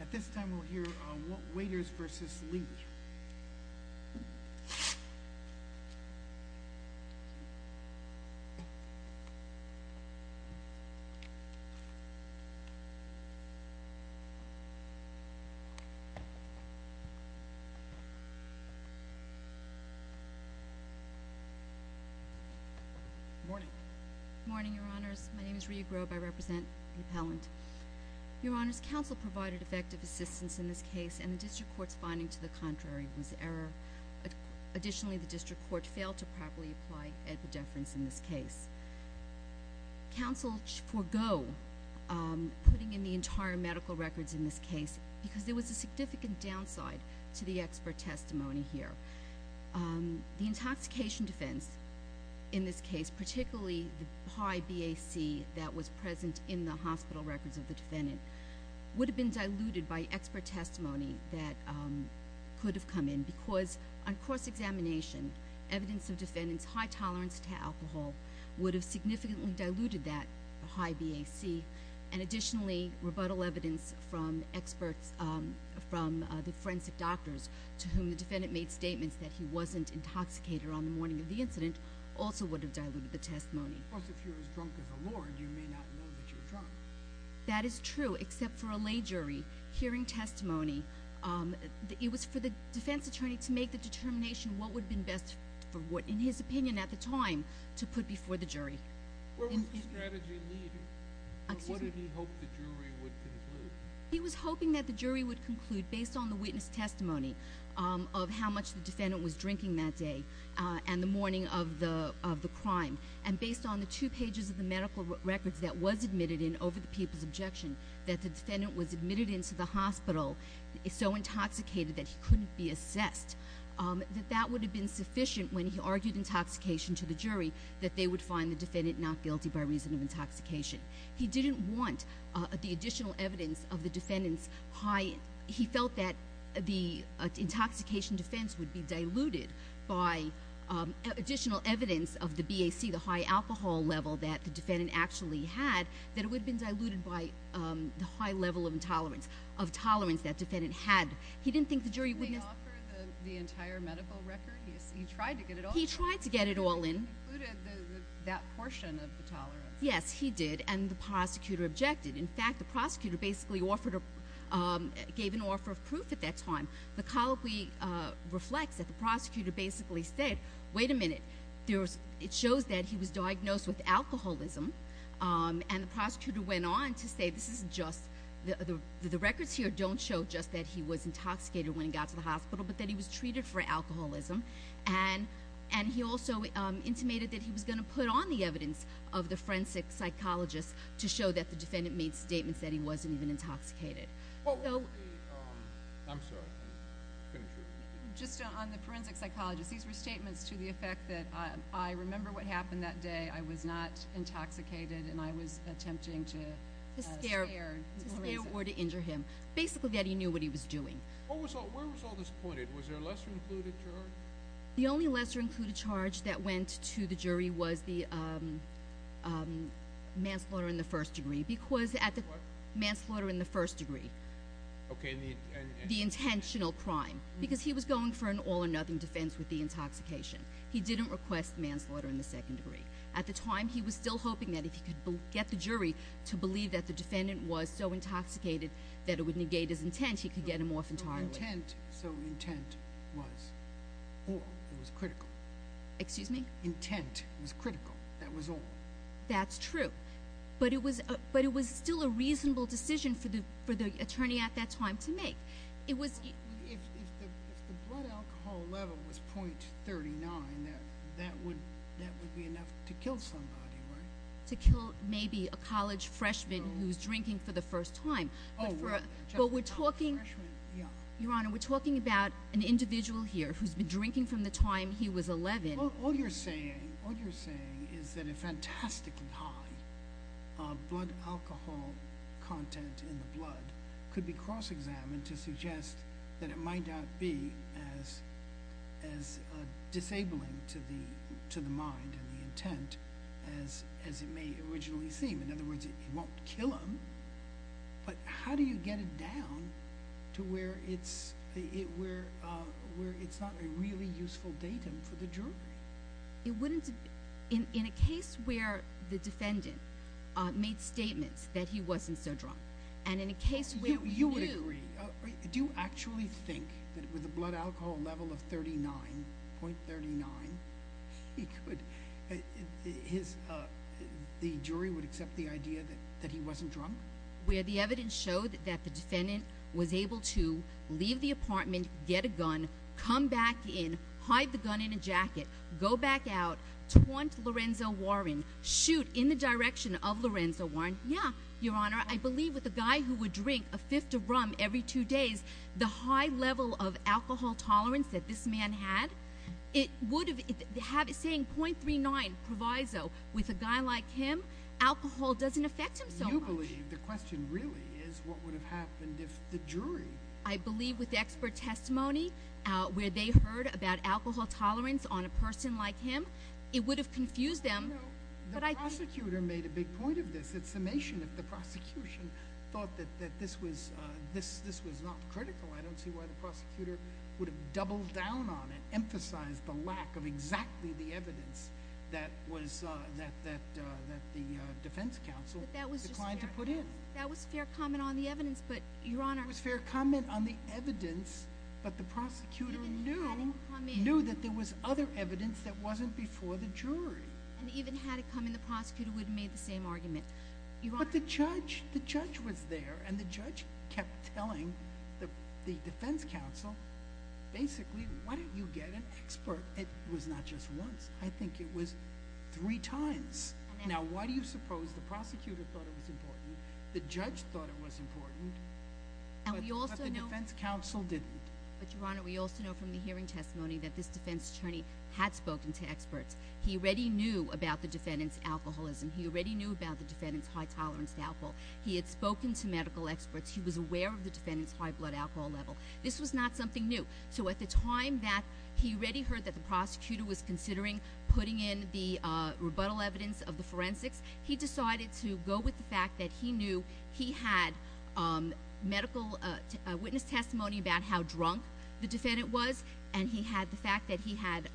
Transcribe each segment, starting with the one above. At this time, we'll hear Waiters v. Lee. Good morning. Good morning, Your Honors. My name is Rhea Grobe. I represent the appellant. Your Honors, counsel provided effective assistance in this case, and the district court's finding to the contrary was error. Additionally, the district court failed to properly apply ed pedeference in this case. Counsel forego putting in the entire medical records in this case because there was a significant downside to the expert testimony here. The intoxication defense in this case, particularly the high BAC that was present in the hospital records of the defendant, would have been diluted by expert testimony that could have come in because on cross-examination, evidence of defendant's high tolerance to alcohol would have significantly diluted that high BAC. And additionally, rebuttal evidence from experts, from the forensic doctors, to whom the defendant made statements that he wasn't intoxicated on the morning of the incident, also would have diluted the testimony. Plus, if you're as drunk as the Lord, you may not know that you're drunk. That is true, except for a lay jury hearing testimony. It was for the defense attorney to make the determination what would have been best, in his opinion at the time, to put before the jury. Where was the strategy needed, and what did he hope the jury would conclude? He was hoping that the jury would conclude, based on the witness testimony, of how much the defendant was drinking that day and the morning of the crime, and based on the two pages of the medical records that was admitted in over the people's objection, that the defendant was admitted into the hospital so intoxicated that he couldn't be assessed, that that would have been sufficient when he argued intoxication to the jury, that they would find the defendant not guilty by reason of intoxication. He didn't want the additional evidence of the defendant's high... He felt that the intoxication defense would be diluted by additional evidence of the BAC, the high alcohol level that the defendant actually had, that it would have been diluted by the high level of tolerance that defendant had. He didn't think the jury would... Didn't he offer the entire medical record? He tried to get it all in. He tried to get it all in. He included that portion of the tolerance. Yes, he did, and the prosecutor objected. In fact, the prosecutor basically gave an offer of proof at that time. The colloquy reflects that the prosecutor basically said, wait a minute, it shows that he was diagnosed with alcoholism, and the prosecutor went on to say this is just... The records here don't show just that he was intoxicated when he got to the hospital, but that he was treated for alcoholism, and he also intimated that he was going to put on the evidence of the forensic psychologist to show that the defendant made statements that he wasn't even intoxicated. I'm sorry. Just on the forensic psychologist, these were statements to the effect that I remember what happened that day. I was not intoxicated, and I was attempting to scare. To scare or to injure him. Basically that he knew what he was doing. Where was all this pointed? Was there a lesser included charge? The only lesser included charge that went to the jury was the manslaughter in the first degree. What? Manslaughter in the first degree. Okay. The intentional crime, because he was going for an all or nothing defense with the intoxication. He didn't request manslaughter in the second degree. At the time, he was still hoping that if he could get the jury to believe that the defendant was so intoxicated that it would negate his intent, he could get him off entirely. No intent, so intent was all. It was critical. Excuse me? Intent was critical. That was all. That's true. But it was still a reasonable decision for the attorney at that time to make. If the blood alcohol level was .39, that would be enough to kill somebody, right? To kill maybe a college freshman who's drinking for the first time. But we're talking about an individual here who's been drinking from the time he was 11. All you're saying is that a fantastically high blood alcohol content in the blood could be cross examined to suggest that it might not be as disabling to the mind and the intent as it may originally seem. In other words, it won't kill him. But how do you get it down to where it's not a really useful datum for the jury? In a case where the defendant made statements that he wasn't so drunk and in a case where he knew— You would agree. Do you actually think that with a blood alcohol level of .39, the jury would accept the idea that he wasn't drunk? Where the evidence showed that the defendant was able to leave the apartment, get a gun, come back in, hide the gun in a jacket, go back out, taunt Lorenzo Warren, shoot in the direction of Lorenzo Warren. Yeah, Your Honor. I believe with a guy who would drink a fifth of rum every two days, the high level of alcohol tolerance that this man had, it would have—saying .39 proviso with a guy like him, alcohol doesn't affect him so much. You believe the question really is what would have happened if the jury— I believe with expert testimony where they heard about alcohol tolerance on a person like him, The prosecutor made a big point of this. The summation of the prosecution thought that this was not critical. I don't see why the prosecutor would have doubled down on it, emphasized the lack of exactly the evidence that the defense counsel declined to put in. That was fair comment on the evidence, but Your Honor— It was fair comment on the evidence, but the prosecutor knew that there was other evidence that wasn't before the jury. And even had it come in, the prosecutor would have made the same argument. But the judge was there, and the judge kept telling the defense counsel, basically, why don't you get an expert? It was not just once. I think it was three times. Now, why do you suppose the prosecutor thought it was important, the judge thought it was important, but the defense counsel didn't? But Your Honor, we also know from the hearing testimony that this defense attorney had spoken to experts. He already knew about the defendant's alcoholism. He already knew about the defendant's high tolerance to alcohol. He had spoken to medical experts. He was aware of the defendant's high blood alcohol level. This was not something new. So at the time that he already heard that the prosecutor was considering putting in the rebuttal evidence of the forensics, he decided to go with the fact that he knew he had medical witness testimony about how drunk the defendant was, and he had the fact that he had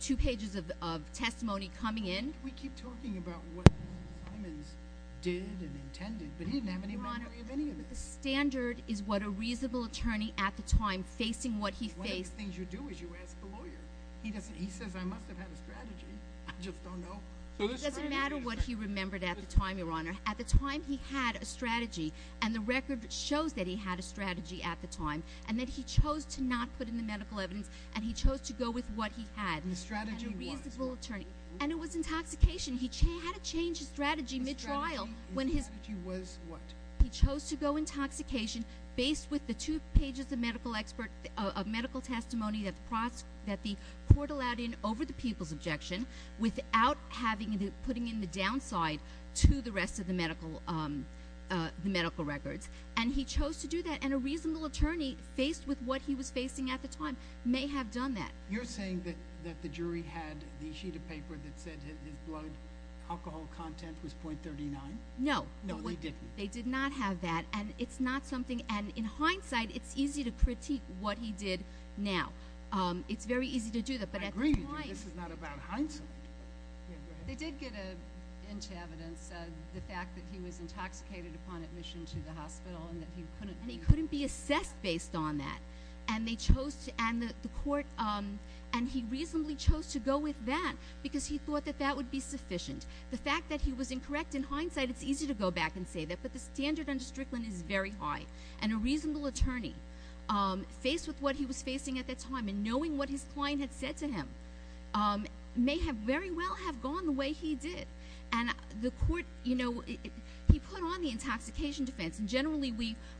two pages of testimony coming in. We keep talking about what Simons did and intended, but he didn't have any memory of any of this. Your Honor, the standard is what a reasonable attorney at the time facing what he faced. One of the things you do is you ask the lawyer. He says, I must have had a strategy. I just don't know. It doesn't matter what he remembered at the time, Your Honor. At the time, he had a strategy, and the record shows that he had a strategy at the time, and that he chose to not put in the medical evidence, and he chose to go with what he had. And the strategy was what? And a reasonable attorney. And it was intoxication. He had to change his strategy mid-trial. The strategy was what? He chose to go intoxication based with the two pages of medical testimony that the court allowed in over the people's objection without putting in the downside to the rest of the medical records, and he chose to do that. And a reasonable attorney, faced with what he was facing at the time, may have done that. You're saying that the jury had the sheet of paper that said his blood alcohol content was .39? No. No, they didn't. They did not have that, and in hindsight, it's easy to critique what he did now. It's very easy to do that. I agree with you. This is not about hindsight. They did get into evidence the fact that he was intoxicated upon admission to the hospital and that he couldn't be assessed based on that, and he reasonably chose to go with that because he thought that that would be sufficient. The fact that he was incorrect in hindsight, it's easy to go back and say that, but the standard under Strickland is very high. And a reasonable attorney, faced with what he was facing at that time and knowing what his client had said to him, may very well have gone the way he did. And the court, you know, he put on the intoxication defense, and generally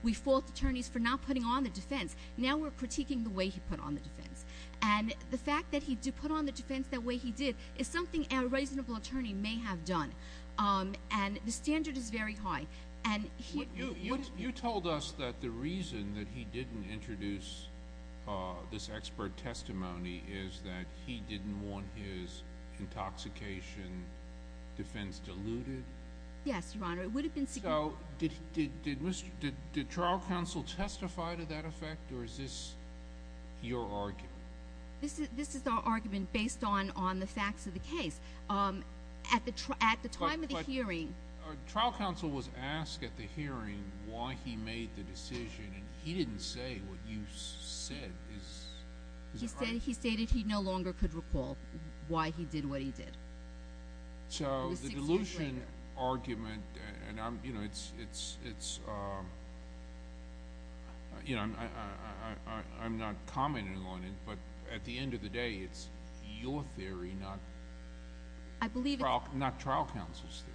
we fault attorneys for not putting on the defense. Now we're critiquing the way he put on the defense. And the fact that he put on the defense that way he did is something a reasonable attorney may have done, and the standard is very high. You told us that the reason that he didn't introduce this expert testimony is that he didn't want his intoxication defense diluted. Yes, Your Honor. It would have been significant. So did trial counsel testify to that effect, or is this your argument? This is our argument based on the facts of the case. At the time of the hearing. Trial counsel was asked at the hearing why he made the decision, and he didn't say what you said. He stated he no longer could recall why he did what he did. So the dilution argument, and, you know, it's, you know, I'm not commenting on it, but at the end of the day it's your theory, not trial counsel's theory.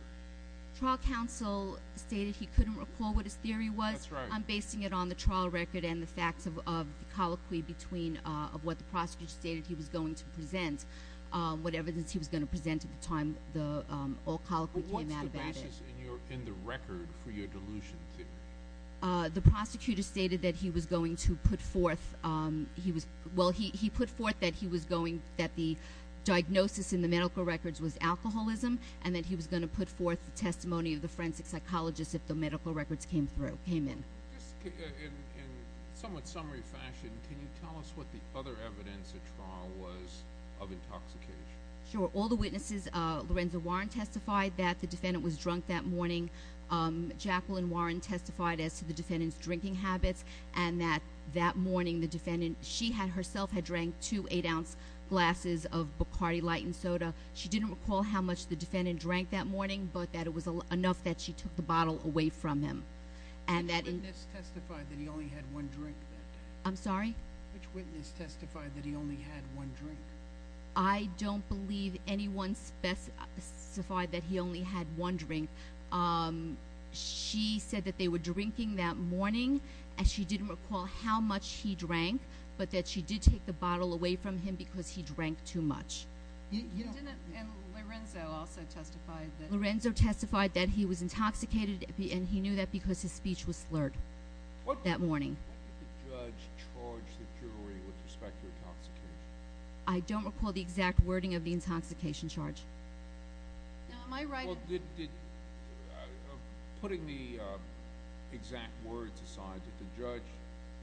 Trial counsel stated he couldn't recall what his theory was. That's right. I'm basing it on the trial record and the facts of the colloquy between what the prosecutor stated he was going to present, what evidence he was going to present at the time the old colloquy came out about it. What's the basis in the record for your dilution theory? The prosecutor stated that he was going to put forth, well, he put forth that the diagnosis in the medical records was alcoholism and that he was going to put forth the testimony of the forensic psychologist if the medical records came in. Just in somewhat summary fashion, can you tell us what the other evidence at trial was of intoxication? Sure. All the witnesses, Lorenza Warren testified that the defendant was drunk that morning. Jacqueline Warren testified as to the defendant's drinking habits and that that morning the defendant, she herself had drank two 8-ounce glasses of Bacardi lightened soda. She didn't recall how much the defendant drank that morning but that it was enough that she took the bottle away from him. Which witness testified that he only had one drink that day? I'm sorry? Which witness testified that he only had one drink? I don't believe anyone specified that he only had one drink. She said that they were drinking that morning and she didn't recall how much he drank but that she did take the bottle away from him because he drank too much. And Lorenzo also testified that... Lorenzo testified that he was intoxicated and he knew that because his speech was slurred that morning. When did the judge charge the jury with respect to intoxication? I don't recall the exact wording of the intoxication charge. Putting the exact words aside, did the judge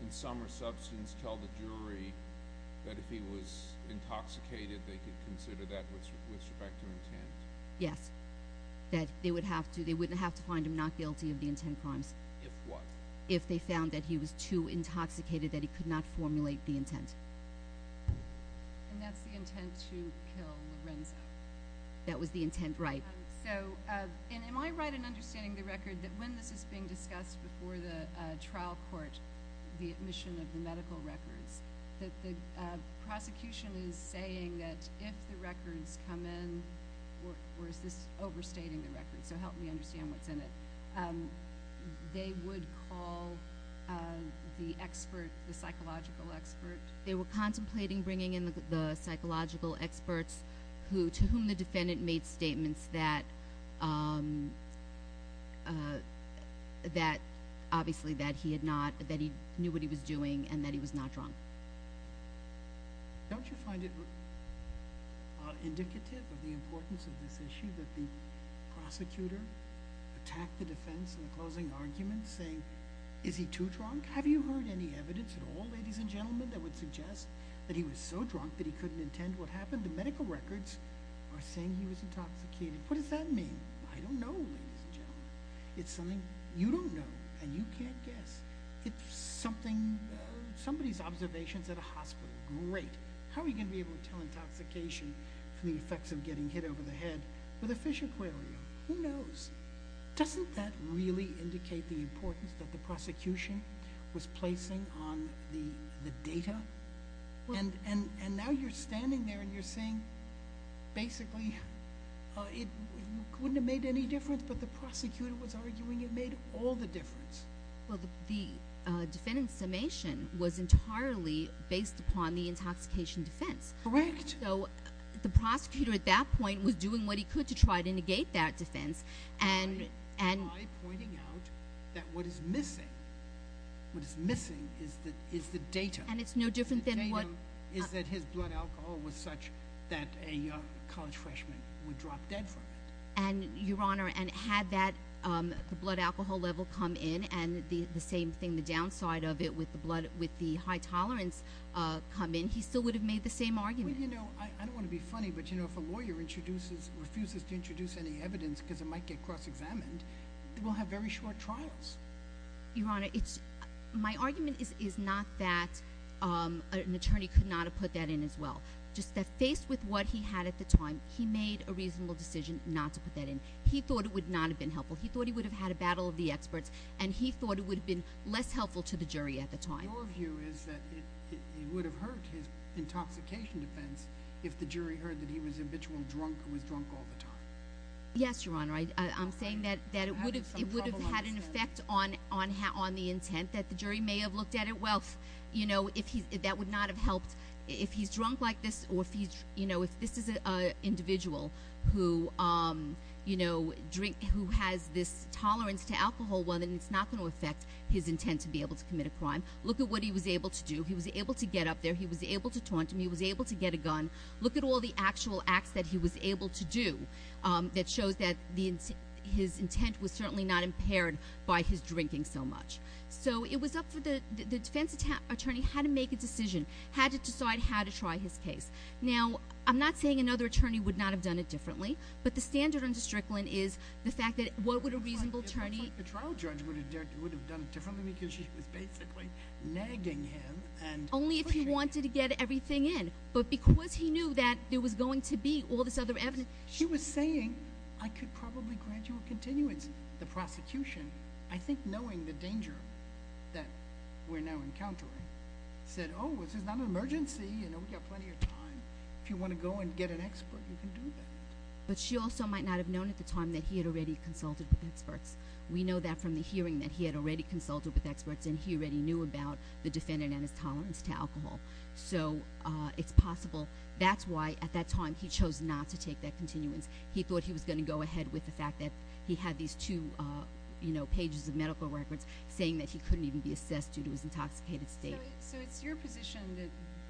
in some substance tell the jury that if he was intoxicated they could consider that with respect to intent? Yes. That they wouldn't have to find him not guilty of the intent crimes. If what? If they found that he was too intoxicated that he could not formulate the intent. And that's the intent to kill Lorenzo? That was the intent, right. So am I right in understanding the record that when this is being discussed before the trial court, the admission of the medical records, that the prosecution is saying that if the records come in, or is this overstating the records so help me understand what's in it, they would call the expert, the psychological expert? They were contemplating bringing in the psychological experts to whom the defendant made statements that he knew what he was doing and that he was not drunk. Don't you find it indicative of the importance of this issue that the prosecutor attacked the defense in the closing argument saying, is he too drunk? Have you heard any evidence at all, ladies and gentlemen, that would suggest that he was so drunk that he couldn't intend what happened? The medical records are saying he was intoxicated. What does that mean? I don't know, ladies and gentlemen. It's something you don't know and you can't guess. It's something, somebody's observations at a hospital, great. How are you going to be able to tell intoxication from the effects of getting hit over the head with a fish aquarium? Who knows? Doesn't that really indicate the importance that the prosecution was placing on the data? And now you're standing there and you're saying basically it wouldn't have made any difference, but the prosecutor was arguing it made all the difference. Well, the defendant's summation was entirely based upon the intoxication defense. Correct. So the prosecutor at that point was doing what he could to try to negate that defense. By pointing out that what is missing, what is missing is the data. And it's no different than what- The data is that his blood alcohol was such that a college freshman would drop dead from it. And, Your Honor, and had that blood alcohol level come in and the same thing, the downside of it with the high tolerance come in, he still would have made the same argument. Well, you know, I don't want to be funny, but, you know, if a lawyer refuses to introduce any evidence because it might get cross-examined, they will have very short trials. Your Honor, my argument is not that an attorney could not have put that in as well. Just that faced with what he had at the time, he made a reasonable decision not to put that in. He thought it would not have been helpful. He thought he would have had a battle of the experts, and he thought it would have been less helpful to the jury at the time. Your view is that it would have hurt his intoxication defense if the jury heard that he was habitual drunk or was drunk all the time. Yes, Your Honor. I'm saying that it would have had an effect on the intent, that the jury may have looked at it. Well, you know, that would not have helped. If he's drunk like this or if he's, you know, if this is an individual who, you know, who has this tolerance to alcohol, well, then it's not going to affect his intent to be able to commit a crime. Look at what he was able to do. He was able to get up there. He was able to taunt him. He was able to get a gun. Look at all the actual acts that he was able to do that shows that his intent was certainly not impaired by his drinking so much. So it was up for the defense attorney how to make a decision, how to decide how to try his case. Now, I'm not saying another attorney would not have done it differently, but the standard under Strickland is the fact that what would a reasonable attorney— It looks like the trial judge would have done it differently because she was basically nagging him and pushing him. Only if he wanted to get everything in. But because he knew that there was going to be all this other evidence— She was saying, I could probably grant you a continuance. The prosecution, I think knowing the danger that we're now encountering, said, Oh, this is not an emergency. You know, we've got plenty of time. If you want to go and get an expert, you can do that. But she also might not have known at the time that he had already consulted with experts. We know that from the hearing that he had already consulted with experts and he already knew about the defendant and his tolerance to alcohol. So it's possible. That's why, at that time, he chose not to take that continuance. He thought he was going to go ahead with the fact that he had these two pages of medical records saying that he couldn't even be assessed due to his intoxicated state. So it's your position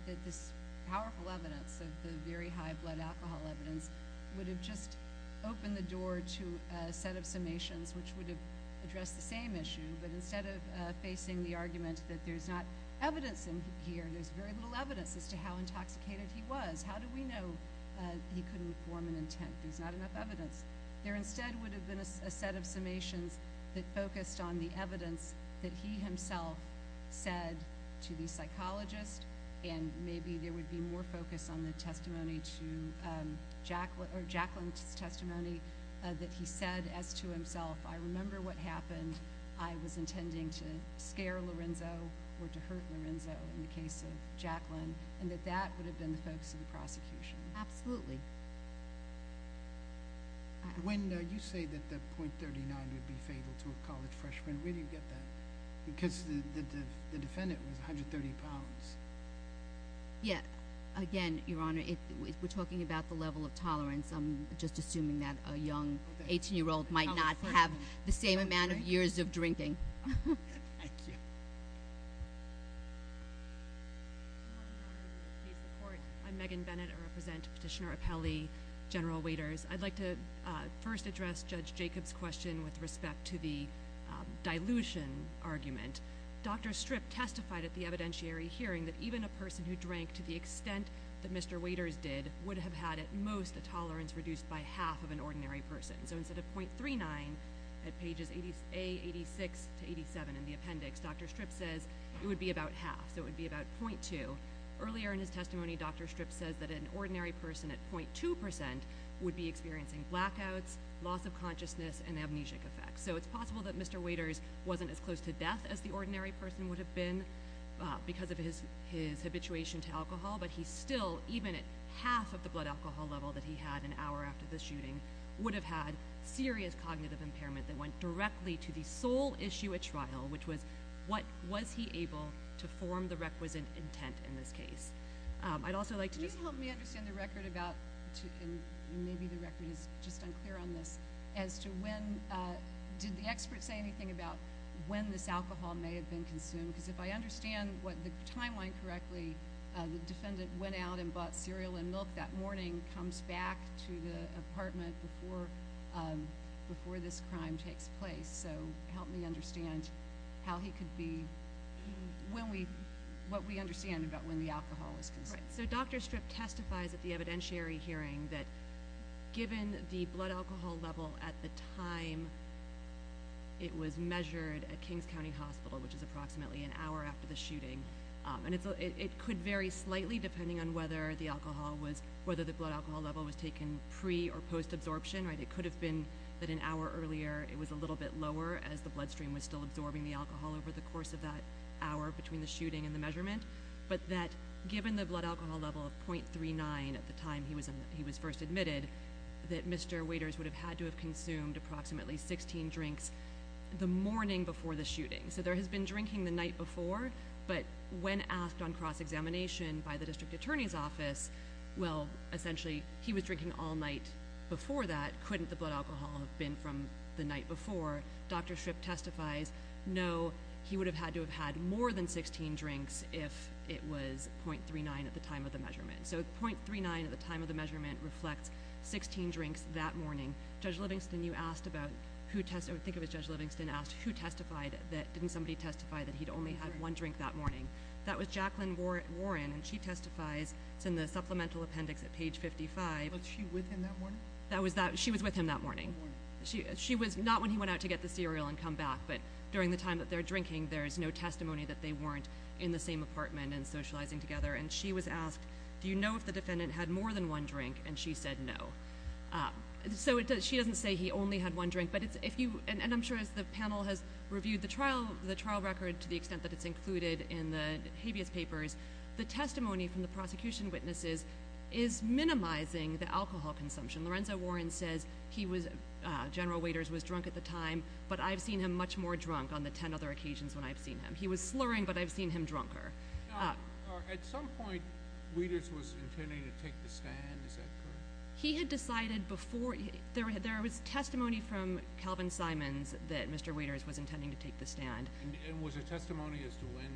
that this powerful evidence, the very high blood alcohol evidence, would have just opened the door to a set of summations which would have addressed the same issue, but instead of facing the argument that there's not evidence in here, there's very little evidence as to how intoxicated he was. How do we know he couldn't form an intent? There's not enough evidence. There instead would have been a set of summations that focused on the evidence that he himself said to the psychologist, and maybe there would be more focus on the Jacqueline's testimony that he said as to himself, I remember what happened. I was intending to scare Lorenzo or to hurt Lorenzo in the case of Jacqueline, and that that would have been the focus of the prosecution. Absolutely. When you say that the .39 would be fatal to a college freshman, where do you get that? Because the defendant was 130 pounds. Yes. Again, Your Honor, if we're talking about the level of tolerance, I'm just assuming that a young 18-year-old might not have the same amount of years of drinking. Thank you. I'm Megan Bennett. I represent Petitioner Appelli, General Waiters. I'd like to first address Judge Jacob's question with respect to the dilution argument. Dr. Strip testified at the evidentiary hearing that even a person who drank to the extent that Mr. Waiters did would have had at most a tolerance reduced by half of an ordinary person. So instead of .39 at pages A86 to 87 in the appendix, Dr. Strip says it would be about half, so it would be about .2. Earlier in his testimony, Dr. Strip says that an ordinary person at .2% would be experiencing blackouts, loss of consciousness, and amnesic effects. So it's possible that Mr. Waiters wasn't as close to death as the ordinary person would have been because of his habituation to alcohol, but he still, even at half of the blood alcohol level that he had an hour after the shooting, would have had serious cognitive impairment that went directly to the sole issue at trial, which was what was he able to form the requisite intent in this case. I'd also like to just- Can you help me understand the record about, and maybe the record is just unclear on this, as to when, did the expert say anything about when this alcohol may have been consumed? Because if I understand the timeline correctly, the defendant went out and bought cereal and milk that morning, comes back to the apartment before this crime takes place. So help me understand how he could be- what we understand about when the alcohol was consumed. So Dr. Strip testifies at the evidentiary hearing that given the blood alcohol level at the time it was measured at Kings County Hospital, which is approximately an hour after the shooting, and it could vary slightly depending on whether the blood alcohol level was taken pre- or post-absorption. It could have been that an hour earlier it was a little bit lower as the bloodstream was still absorbing the alcohol over the course of that hour between the shooting and the measurement, but that given the blood alcohol level of .39 at the time he was first admitted, that Mr. Waiters would have had to have consumed approximately 16 drinks the morning before the shooting. So there has been drinking the night before, but when asked on cross-examination by the district attorney's office, well, essentially, he was drinking all night before that. Couldn't the blood alcohol have been from the night before? Dr. Strip testifies, no, he would have had to have had more than 16 drinks if it was .39 at the time of the measurement. So .39 at the time of the measurement reflects 16 drinks that morning. Judge Livingston, you asked about who testified, I think it was Judge Livingston, asked who testified that didn't somebody testify that he'd only had one drink that morning. That was Jacqueline Warren, and she testifies, it's in the supplemental appendix at page 55. Was she with him that morning? She was with him that morning. She was not when he went out to get the cereal and come back, but during the time that they're drinking there's no testimony that they weren't in the same apartment and socializing together. And she was asked, do you know if the defendant had more than one drink? And she said no. So she doesn't say he only had one drink, and I'm sure the panel has reviewed the trial record to the extent that it's included in the habeas papers. The testimony from the prosecution witnesses is minimizing the alcohol consumption. Lorenzo Warren says General Waders was drunk at the time, but I've seen him much more drunk on the 10 other occasions when I've seen him. He was slurring, but I've seen him drunker. At some point Waders was intending to take the stand, is that correct? He had decided before. There was testimony from Calvin Simons that Mr. Waders was intending to take the stand. And was there testimony as to when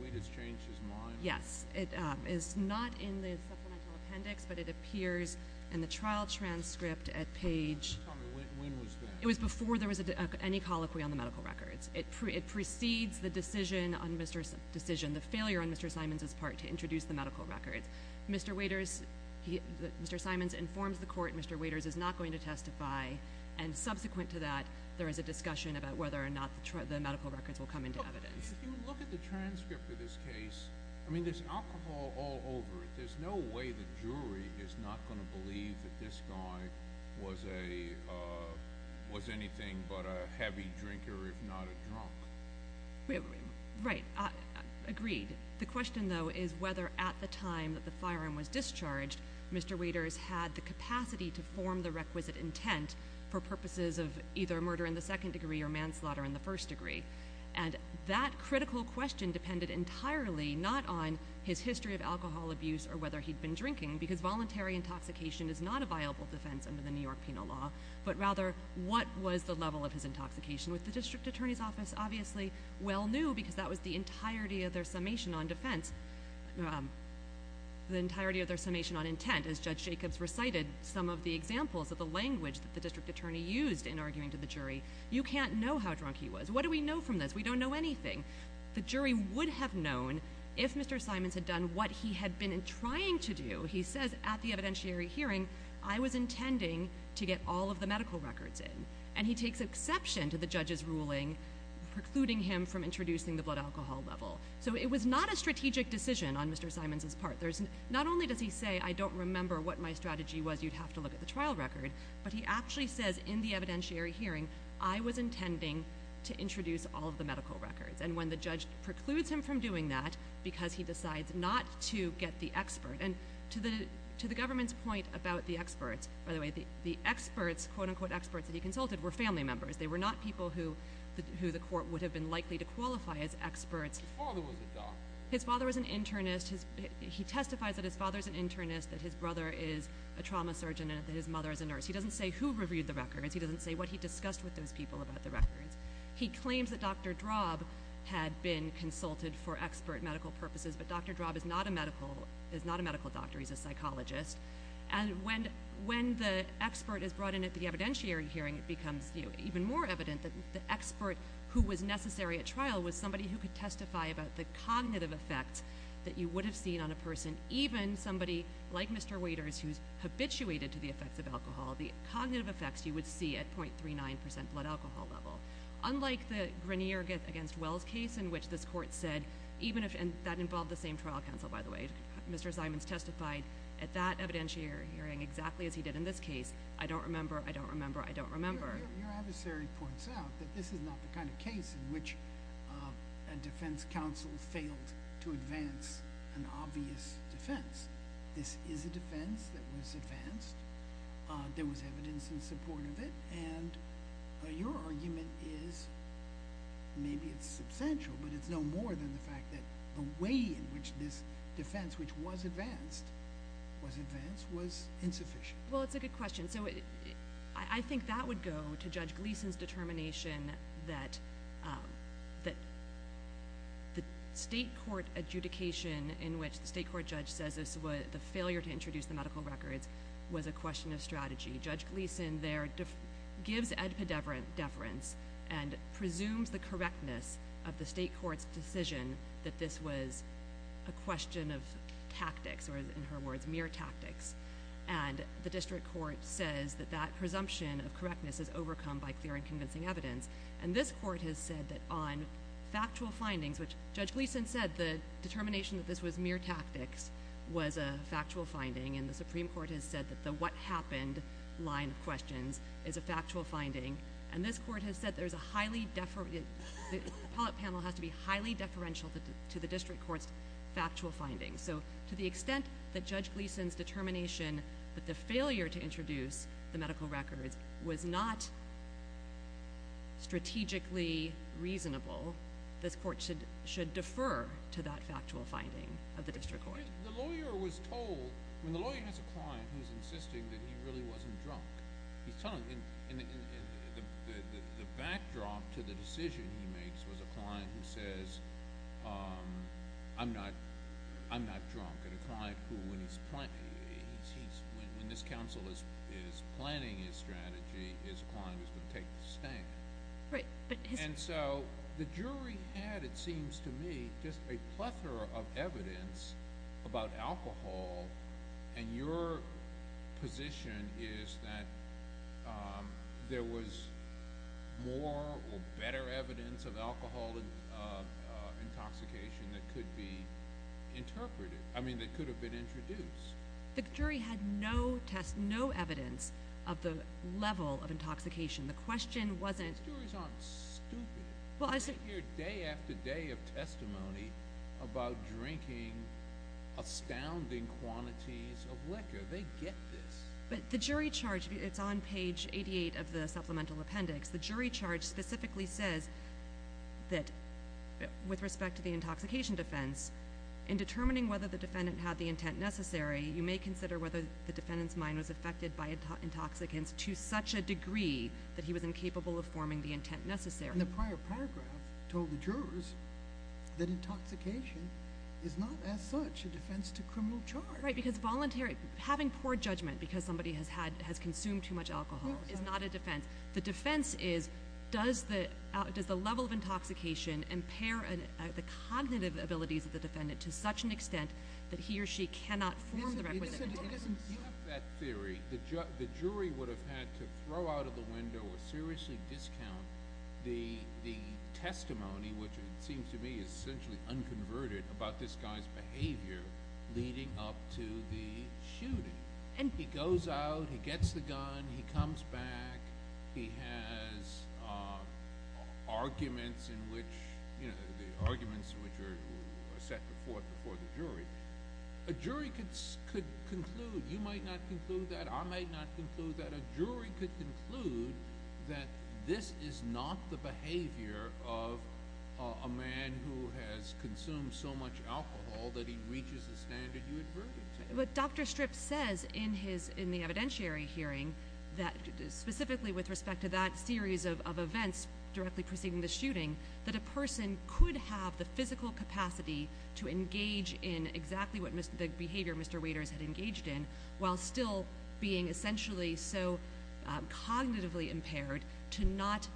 Waders changed his mind? Yes. It's not in the supplemental appendix, but it appears in the trial transcript at page. Tell me, when was that? It was before there was any colloquy on the medical records. It precedes the decision on Mr. Simons' part to introduce the medical records. Mr. Simons informs the court Mr. Waders is not going to testify, and subsequent to that there is a discussion about whether or not the medical records will come into evidence. If you look at the transcript of this case, I mean there's alcohol all over it. There's no way the jury is not going to believe that this guy was anything but a heavy drinker, if not a drunk. Right. Agreed. The question, though, is whether at the time that the firearm was discharged, Mr. Waders had the capacity to form the requisite intent for purposes of either murder in the second degree or manslaughter in the first degree. And that critical question depended entirely not on his history of alcohol abuse or whether he'd been drinking, because voluntary intoxication is not a viable defense under the New York penal law, but rather what was the level of his intoxication with the district attorney's office? Obviously well knew, because that was the entirety of their summation on defense, the entirety of their summation on intent. As Judge Jacobs recited some of the examples of the language that the district attorney used in arguing to the jury, you can't know how drunk he was. What do we know from this? We don't know anything. The jury would have known if Mr. Simons had done what he had been trying to do. He says at the evidentiary hearing, I was intending to get all of the medical records in. And he takes exception to the judge's ruling precluding him from introducing the blood alcohol level. So it was not a strategic decision on Mr. Simons's part. Not only does he say I don't remember what my strategy was, you'd have to look at the trial record, but he actually says in the evidentiary hearing, I was intending to introduce all of the medical records. And when the judge precludes him from doing that because he decides not to get the expert. And to the government's point about the experts, by the way, the experts, quote unquote experts, that he consulted were family members. They were not people who the court would have been likely to qualify as experts. His father was a doctor. His father was an internist. He testifies that his father is an internist, that his brother is a trauma surgeon, and that his mother is a nurse. He doesn't say who reviewed the records. He doesn't say what he discussed with those people about the records. He claims that Dr. Drob had been consulted for expert medical purposes. But Dr. Drob is not a medical doctor. He's a psychologist. And when the expert is brought in at the evidentiary hearing, it becomes even more evident that the expert who was necessary at trial was somebody who could testify about the cognitive effects that you would have seen on a person, even somebody like Mr. Waiters who's habituated to the effects of alcohol, the cognitive effects you would see at .39% blood alcohol level. Unlike the Grenier against Wells case in which this court said, and that involved the same trial counsel, by the way, Mr. Simons testified at that evidentiary hearing exactly as he did in this case, Your adversary points out that this is not the kind of case in which a defense counsel failed to advance an obvious defense. This is a defense that was advanced. There was evidence in support of it. And your argument is maybe it's substantial, but it's no more than the fact that the way in which this defense, which was advanced, was advanced was insufficient. Well, it's a good question. I think that would go to Judge Gleeson's determination that the state court adjudication in which the state court judge says the failure to introduce the medical records was a question of strategy. Judge Gleeson there gives ad pedeverance and presumes the correctness of the state court's decision that this was a question of tactics, or in her words, mere tactics. And the district court says that that presumption of correctness is overcome by clear and convincing evidence. And this court has said that on factual findings, which Judge Gleeson said, the determination that this was mere tactics was a factual finding, and the Supreme Court has said that the what happened line of questions is a factual finding. And this court has said there's a highly – the appellate panel has to be highly deferential to the district court's factual findings. So to the extent that Judge Gleeson's determination that the failure to introduce the medical records was not strategically reasonable, this court should defer to that factual finding of the district court. The lawyer was told – I mean, the lawyer has a client who's insisting that he really wasn't drunk. And the backdrop to the decision he makes was a client who says, I'm not drunk, and a client who when he's – when this counsel is planning his strategy, his client is going to take the stake. And so the jury had, it seems to me, just a plethora of evidence about alcohol, and your position is that there was more or better evidence of alcohol intoxication that could be interpreted – I mean, that could have been introduced. The jury had no evidence of the level of intoxication. The question wasn't – I hear day after day of testimony about drinking astounding quantities of liquor. They get this. But the jury charge – it's on page 88 of the supplemental appendix. The jury charge specifically says that with respect to the intoxication defense, in determining whether the defendant had the intent necessary, you may consider whether the defendant's mind was affected by intoxicants to such a degree that he was incapable of forming the intent necessary. And the prior paragraph told the jurors that intoxication is not as such a defense to criminal charge. Right, because voluntary – having poor judgment because somebody has consumed too much alcohol is not a defense. The defense is, does the level of intoxication impair the cognitive abilities of the defendant to such an extent that he or she cannot form the requisite intent? You have that theory. The jury would have had to throw out of the window or seriously discount the testimony, which it seems to me is essentially unconverted, about this guy's behavior leading up to the shooting. And he goes out, he gets the gun, he comes back, he has arguments in which – the arguments which are set before the jury. A jury could conclude – you might not conclude that, I might not conclude that – a jury could conclude that this is not the behavior of a man who has consumed so much alcohol that he reaches the standard you adverted to. But Dr. Stripp says in the evidentiary hearing, specifically with respect to that series of events directly preceding the shooting, that a person could have the physical capacity to engage in exactly what the behavior Mr. Waiters had engaged in, while still being essentially so cognitively impaired to not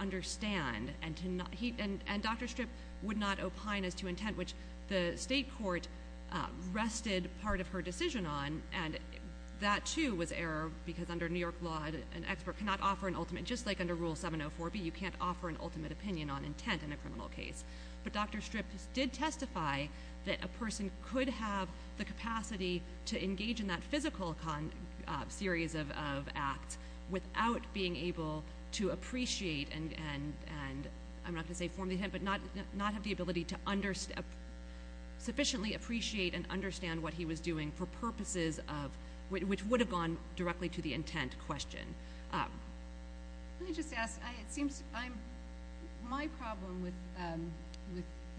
understand. And Dr. Stripp would not opine as to intent, which the state court rested part of her decision on, and that too was error because under New York law an expert cannot offer an ultimate – an opinion on intent in a criminal case. But Dr. Stripp did testify that a person could have the capacity to engage in that physical series of acts without being able to appreciate and – I'm not going to say form the intent – but not have the ability to sufficiently appreciate and understand what he was doing for purposes of – which would have gone directly to the intent question. Let me just ask, it seems I'm – my problem with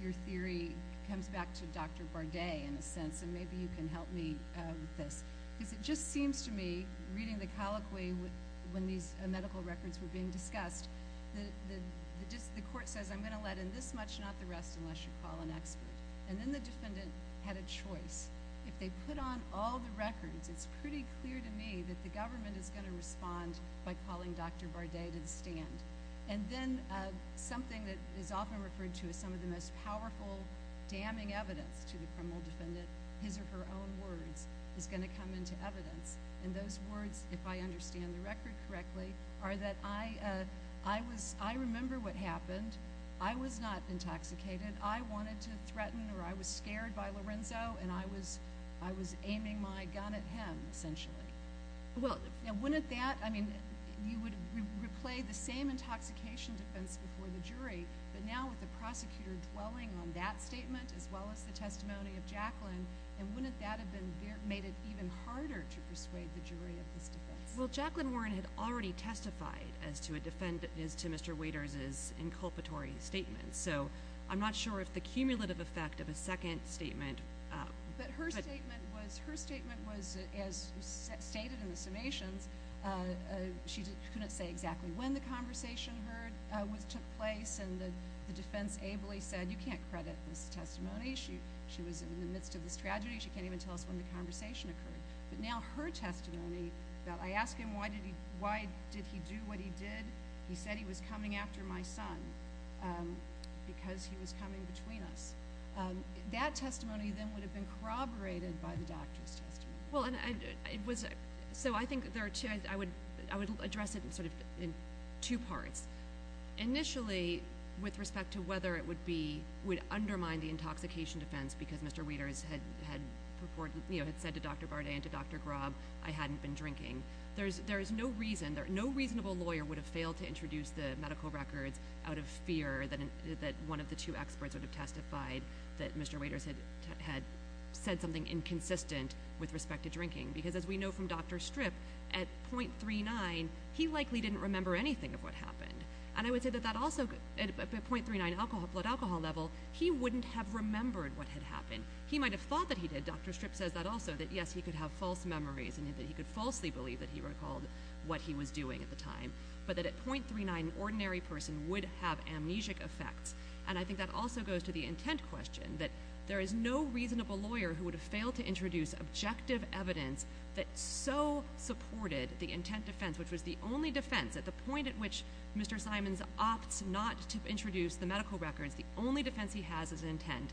your theory comes back to Dr. Bardet in a sense, and maybe you can help me with this. Because it just seems to me, reading the colloquy when these medical records were being discussed, the court says I'm going to let in this much, not the rest, unless you call an expert. And then the defendant had a choice. If they put on all the records, it's pretty clear to me that the government is going to respond by calling Dr. Bardet to the stand. And then something that is often referred to as some of the most powerful damning evidence to the criminal defendant, his or her own words, is going to come into evidence. And those words, if I understand the record correctly, are that I was – I remember what happened. I was not intoxicated. I wanted to threaten or I was scared by Lorenzo, and I was aiming my gun at him, essentially. Now, wouldn't that – I mean, you would replay the same intoxication defense before the jury, but now with the prosecutor dwelling on that statement as well as the testimony of Jacqueline, and wouldn't that have been – made it even harder to persuade the jury of this defense? Well, Jacqueline Warren had already testified as to a defendant – as to Mr. Waiters' inculpatory statement. So I'm not sure if the cumulative effect of a second statement – But her statement was – her statement was, as stated in the summations, she couldn't say exactly when the conversation took place, and the defense ably said, you can't credit this testimony. She was in the midst of this tragedy. She can't even tell us when the conversation occurred. But now her testimony, that I asked him why did he do what he did, he said he was coming after my son. Because he was coming between us. That testimony then would have been corroborated by the doctor's testimony. Well, and it was – so I think there are two – I would address it in sort of – in two parts. Initially, with respect to whether it would be – would undermine the intoxication defense because Mr. Waiters had purported – you know, had said to Dr. Bardet and to Dr. Graub, I hadn't been drinking. There is no reason – no reasonable lawyer would have failed to introduce the medical records out of fear that one of the two experts would have testified that Mr. Waiters had said something inconsistent with respect to drinking because, as we know from Dr. Strip, at .39, he likely didn't remember anything of what happened. And I would say that that also – at .39 blood alcohol level, he wouldn't have remembered what had happened. He might have thought that he did. Dr. Strip says that also, that, yes, he could have false memories and that he could falsely believe that he recalled what he was doing at the time, but that at .39, an ordinary person would have amnesic effects. And I think that also goes to the intent question, that there is no reasonable lawyer who would have failed to introduce objective evidence that so supported the intent defense, which was the only defense. At the point at which Mr. Simons opts not to introduce the medical records, the only defense he has is intent.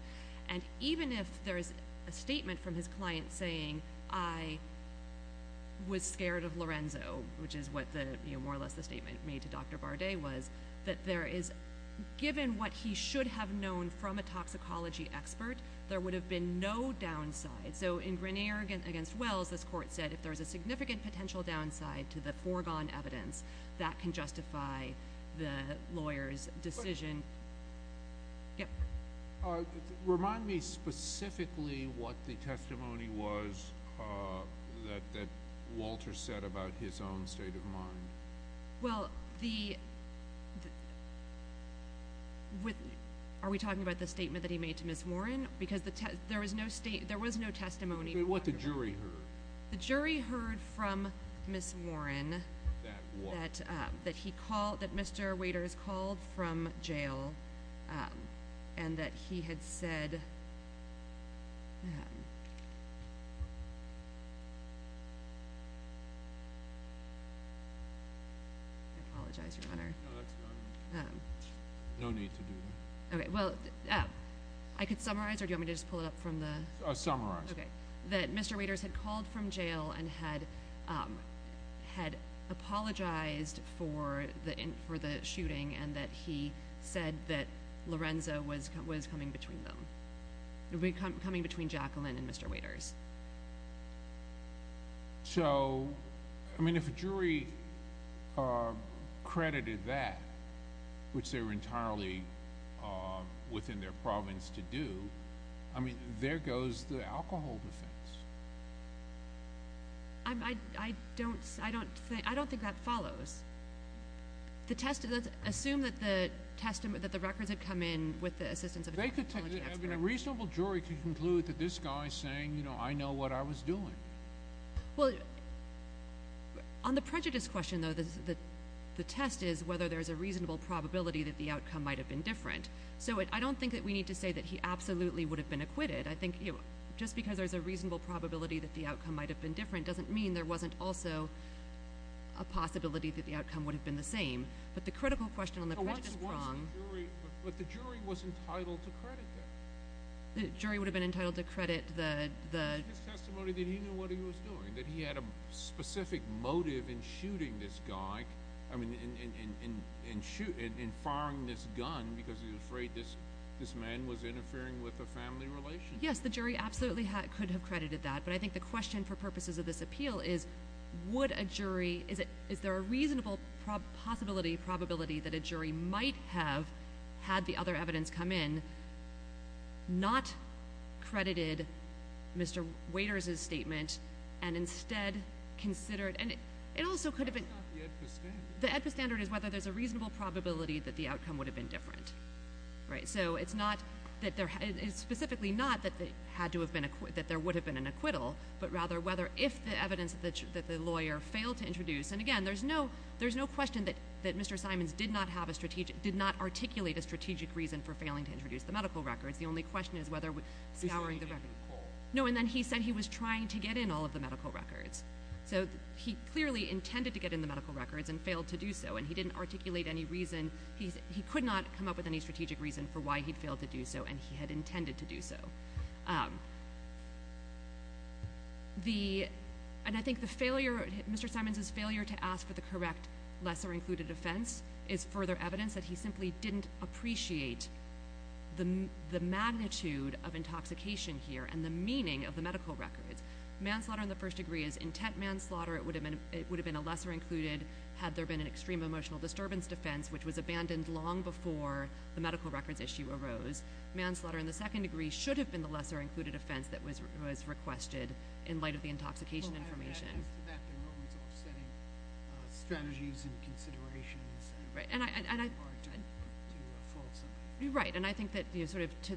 And even if there is a statement from his client saying, I was scared of Lorenzo, which is what more or less the statement made to Dr. Bardet was, that there is – given what he should have known from a toxicology expert, there would have been no downside. So in Grenier v. Wells, this court said, if there is a significant potential downside to the foregone evidence, that can justify the lawyer's decision. Yep. Remind me specifically what the testimony was that Walter said about his own state of mind. Well, the – are we talking about the statement that he made to Ms. Warren? Because there was no testimony. What the jury heard. The jury heard from Ms. Warren that he called – that Mr. Waiters called from jail and that he had said – I apologize, Your Honor. No, that's fine. No need to do that. Okay, well, I could summarize, or do you want me to just pull it up from the – Summarize. Okay. That Mr. Waiters had called from jail and had apologized for the shooting and that he said that Lorenzo was coming between them, coming between Jacqueline and Mr. Waiters. So, I mean, if a jury credited that, which they were entirely within their province to do, I mean, there goes the alcohol defense. I don't think that follows. Assume that the records had come in with the assistance of a technology expert. A reasonable jury could conclude that this guy is saying, you know, I know what I was doing. Well, on the prejudice question, though, the test is whether there's a reasonable probability that the outcome might have been different. So I don't think that we need to say that he absolutely would have been acquitted. I think just because there's a reasonable probability that the outcome might have been different doesn't mean there wasn't also a possibility that the outcome would have been the same. But the critical question on the prejudice prong – But the jury was entitled to credit that. The jury would have been entitled to credit the – His testimony that he knew what he was doing, that he had a specific motive in shooting this guy, I mean, in firing this gun because he was afraid this man was interfering with a family relationship. Yes, the jury absolutely could have credited that. But I think the question for purposes of this appeal is, would a jury – Is there a reasonable possibility, probability, that a jury might have, had the other evidence come in, not credited Mr. Waiters' statement and instead considered – And it also could have been – It's not the AEDPA standard. The AEDPA standard is whether there's a reasonable probability that the outcome would have been different. So it's not that there – It's specifically not that there would have been an acquittal, but rather whether if the evidence that the lawyer failed to introduce – And again, there's no question that Mr. Simons did not have a strategic – No, and then he said he was trying to get in all of the medical records. So he clearly intended to get in the medical records and failed to do so, and he didn't articulate any reason – He could not come up with any strategic reason for why he failed to do so, and he had intended to do so. And I think the failure – Mr. Simons' failure to ask for the correct lesser-included offense is further evidence that he simply didn't appreciate the magnitude of intoxication here and the meaning of the medical records. Manslaughter in the first degree is intent manslaughter. It would have been a lesser-included, had there been an extreme emotional disturbance defense, which was abandoned long before the medical records issue arose. Manslaughter in the second degree should have been the lesser-included offense that was requested in light of the intoxication information. Well, add to that the role of setting strategies and considerations. Right. Right, and I think that sort of to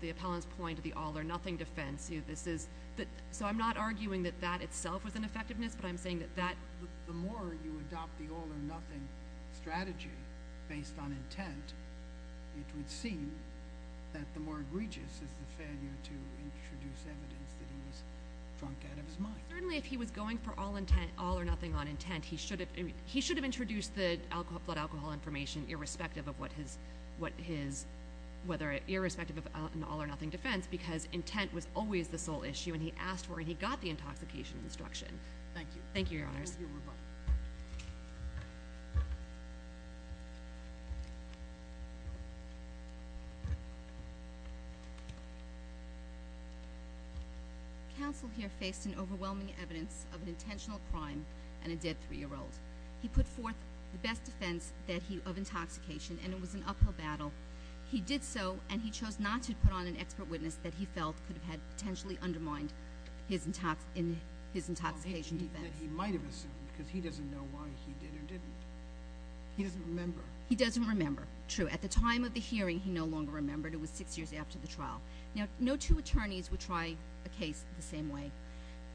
the appellant's point of the all-or-nothing defense, this is – so I'm not arguing that that itself was an effectiveness, but I'm saying that that – The more you adopt the all-or-nothing strategy based on intent, it would seem that the more egregious is the failure to introduce evidence that he was drunk out of his mind. Certainly, if he was going for all-or-nothing on intent, he should have introduced the blood alcohol information irrespective of what his – whether irrespective of an all-or-nothing defense because intent was always the sole issue, and he asked for it, and he got the intoxication instruction. Thank you. Thank you, Your Honors. Thank you. Counsel here faced an overwhelming evidence of an intentional crime and a dead 3-year-old. He put forth the best defense of intoxication, and it was an uphill battle. He did so, and he chose not to put on an expert witness that he felt could have potentially undermined his intoxication defense. That he might have assumed because he doesn't know why he did or didn't. He doesn't remember. He doesn't remember. True. At the time of the hearing, he no longer remembered. It was six years after the trial. Now, no two attorneys would try a case the same way,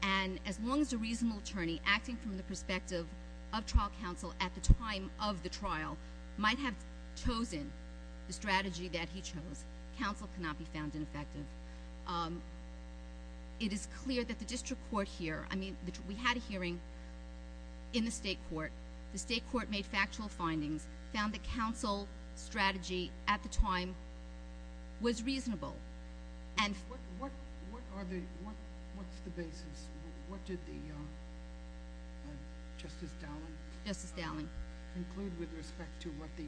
and as long as a reasonable attorney acting from the perspective of trial counsel at the time of the trial might have chosen the strategy that he chose, counsel cannot be found ineffective. It is clear that the district court here – I mean, we had a hearing in the state court. The state court made factual findings, found that counsel's strategy at the time was reasonable. What's the basis? What did Justice Dowling conclude with respect to what the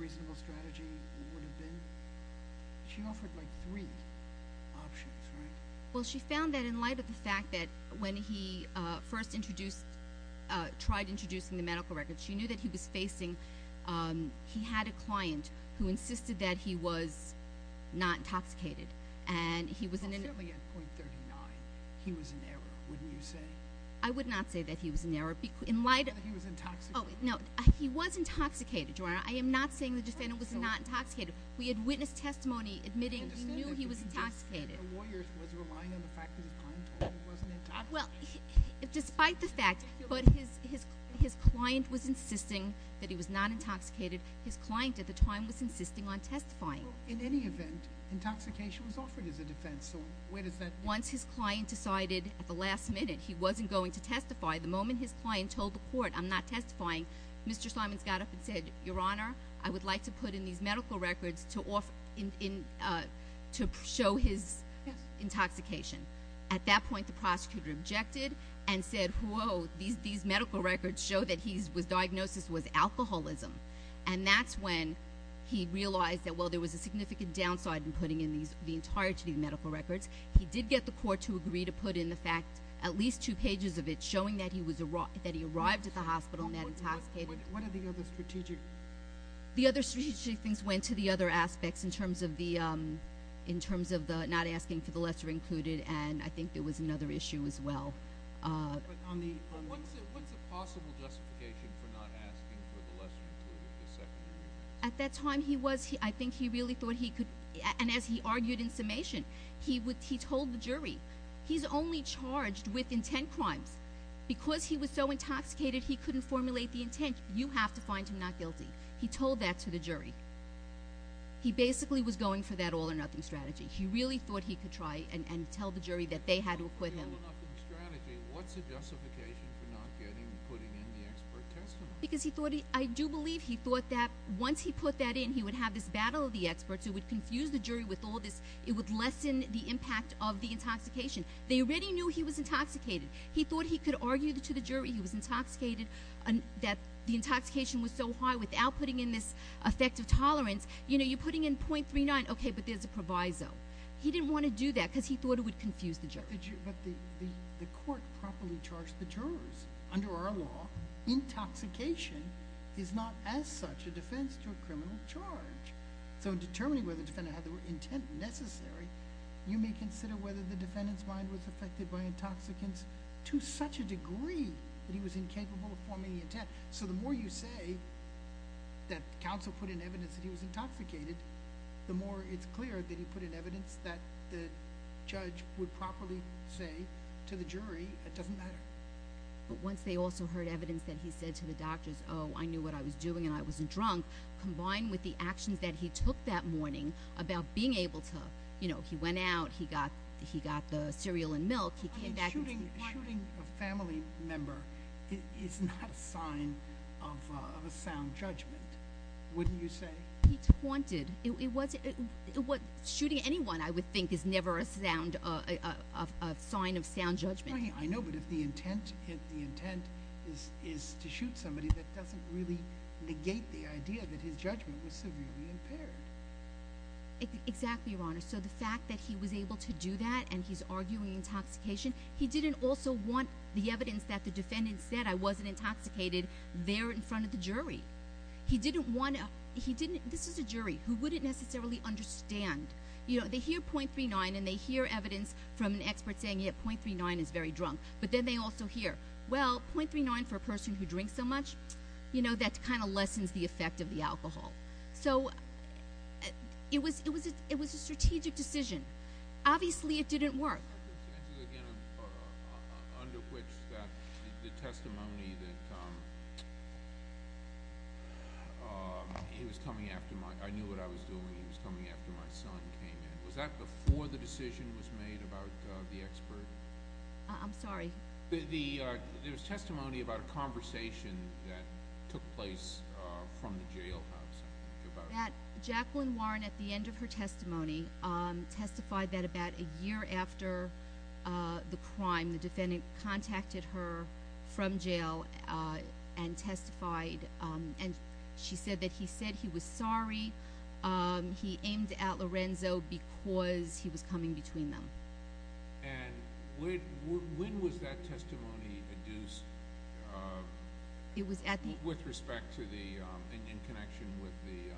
reasonable strategy would have been? She offered, like, three options, right? Well, she found that in light of the fact that when he first introduced – tried introducing the medical records, she knew that he was facing – he had a client who insisted that he was not intoxicated, and he was – Well, certainly at .39, he was in error, wouldn't you say? I would not say that he was in error. In light of – He was intoxicated. Oh, no, he was intoxicated, Your Honor. I am not saying the defendant was not intoxicated. We had witness testimony admitting he knew he was intoxicated. The lawyer was relying on the fact that his client told him he wasn't intoxicated. Well, despite the fact – But his client was insisting that he was not intoxicated. His client at the time was insisting on testifying. Well, in any event, intoxication was offered as a defense, so where does that – Once his client decided at the last minute he wasn't going to testify, the moment his client told the court, I'm not testifying, Mr. Simons got up and said, Your Honor, I would like to put in these medical records to show his intoxication. At that point, the prosecutor objected and said, Whoa, these medical records show that his diagnosis was alcoholism. And that's when he realized that, well, there was a significant downside in putting in the entirety of the medical records. He did get the court to agree to put in the fact, at least two pages of it, showing that he arrived at the hospital not intoxicated. What are the other strategic – The other strategic things went to the other aspects in terms of the – in terms of not asking for the lesser included, and I think there was another issue as well. What's the possible justification for not asking for the lesser included? At that time, he was – I think he really thought he could – And as he argued in summation, he told the jury, He's only charged with intent crimes. Because he was so intoxicated, he couldn't formulate the intent. You have to find him not guilty. He told that to the jury. He basically was going for that all-or-nothing strategy. He really thought he could try and tell the jury that they had to acquit him. All-or-nothing strategy. What's the justification for not getting and putting in the expert testimony? Because he thought he – I do believe he thought that once he put that in, he would have this battle of the experts who would confuse the jury with all this. It would lessen the impact of the intoxication. They already knew he was intoxicated. He thought he could argue to the jury he was intoxicated that the intoxication was so high without putting in this effect of tolerance. You're putting in .39, okay, but there's a proviso. He didn't want to do that because he thought it would confuse the jury. But the court properly charged the jurors. Under our law, intoxication is not as such a defense to a criminal charge. So in determining whether the defendant had the intent necessary, you may consider whether the defendant's mind was affected by intoxicants to such a degree that he was incapable of forming the intent. So the more you say that counsel put in evidence that he was intoxicated, the more it's clear that he put in evidence that the judge would properly say to the jury it doesn't matter. But once they also heard evidence that he said to the doctors, oh, I knew what I was doing and I wasn't drunk, combined with the actions that he took that morning about being able to, you know, he went out, he got the cereal and milk. Shooting a family member is not a sign of a sound judgment, wouldn't you say? He taunted. Shooting anyone, I would think, is never a sign of sound judgment. I know, but if the intent is to shoot somebody, that doesn't really negate the idea that his judgment was severely impaired. Exactly, Your Honor. So the fact that he was able to do that and he's arguing intoxication, he didn't also want the evidence that the defendant said, I wasn't intoxicated there in front of the jury. He didn't want to, he didn't, this is a jury who wouldn't necessarily understand. You know, they hear .39 and they hear evidence from an expert saying, yeah, .39 is very drunk, but then they also hear, well, .39 for a person who drinks so much, you know, that kind of lessens the effect of the alcohol. So it was a strategic decision. Obviously it didn't work. Again, under which the testimony that he was coming after my, I knew what I was doing, he was coming after my son came in. Was that before the decision was made about the expert? I'm sorry? There was testimony about a conversation that took place from the jailhouse. Jacqueline Warren, at the end of her testimony, testified that about a year after the crime, the defendant contacted her from jail and testified, and she said that he said he was sorry, he aimed at Lorenzo because he was coming between them. And when was that testimony adduced with respect to the, in connection with the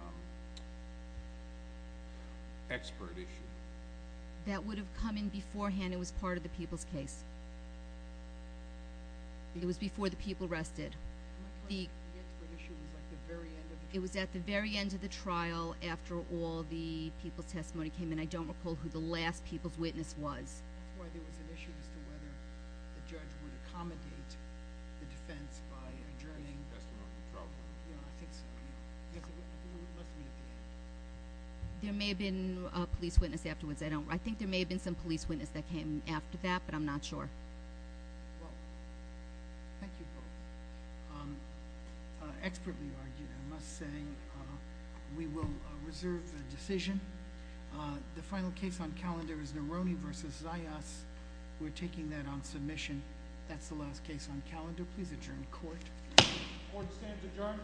expert issue? That would have come in beforehand. It was part of the people's case. It was before the people arrested. The expert issue was at the very end of the trial. It was at the very end of the trial after all the people's testimony came in. I don't recall who the last people's witness was. That's why there was an issue as to whether the judge would accommodate the defense by addressing the problem. It must have been at the end. There may have been a police witness afterwards. I think there may have been some police witness that came after that, but I'm not sure. Well, thank you both. Expertly argued, I must say. We will reserve the decision. The final case on calendar is Neroni v. Zayas. We're taking that on submission. That's the last case on calendar. Please adjourn the court. Court stands adjourned.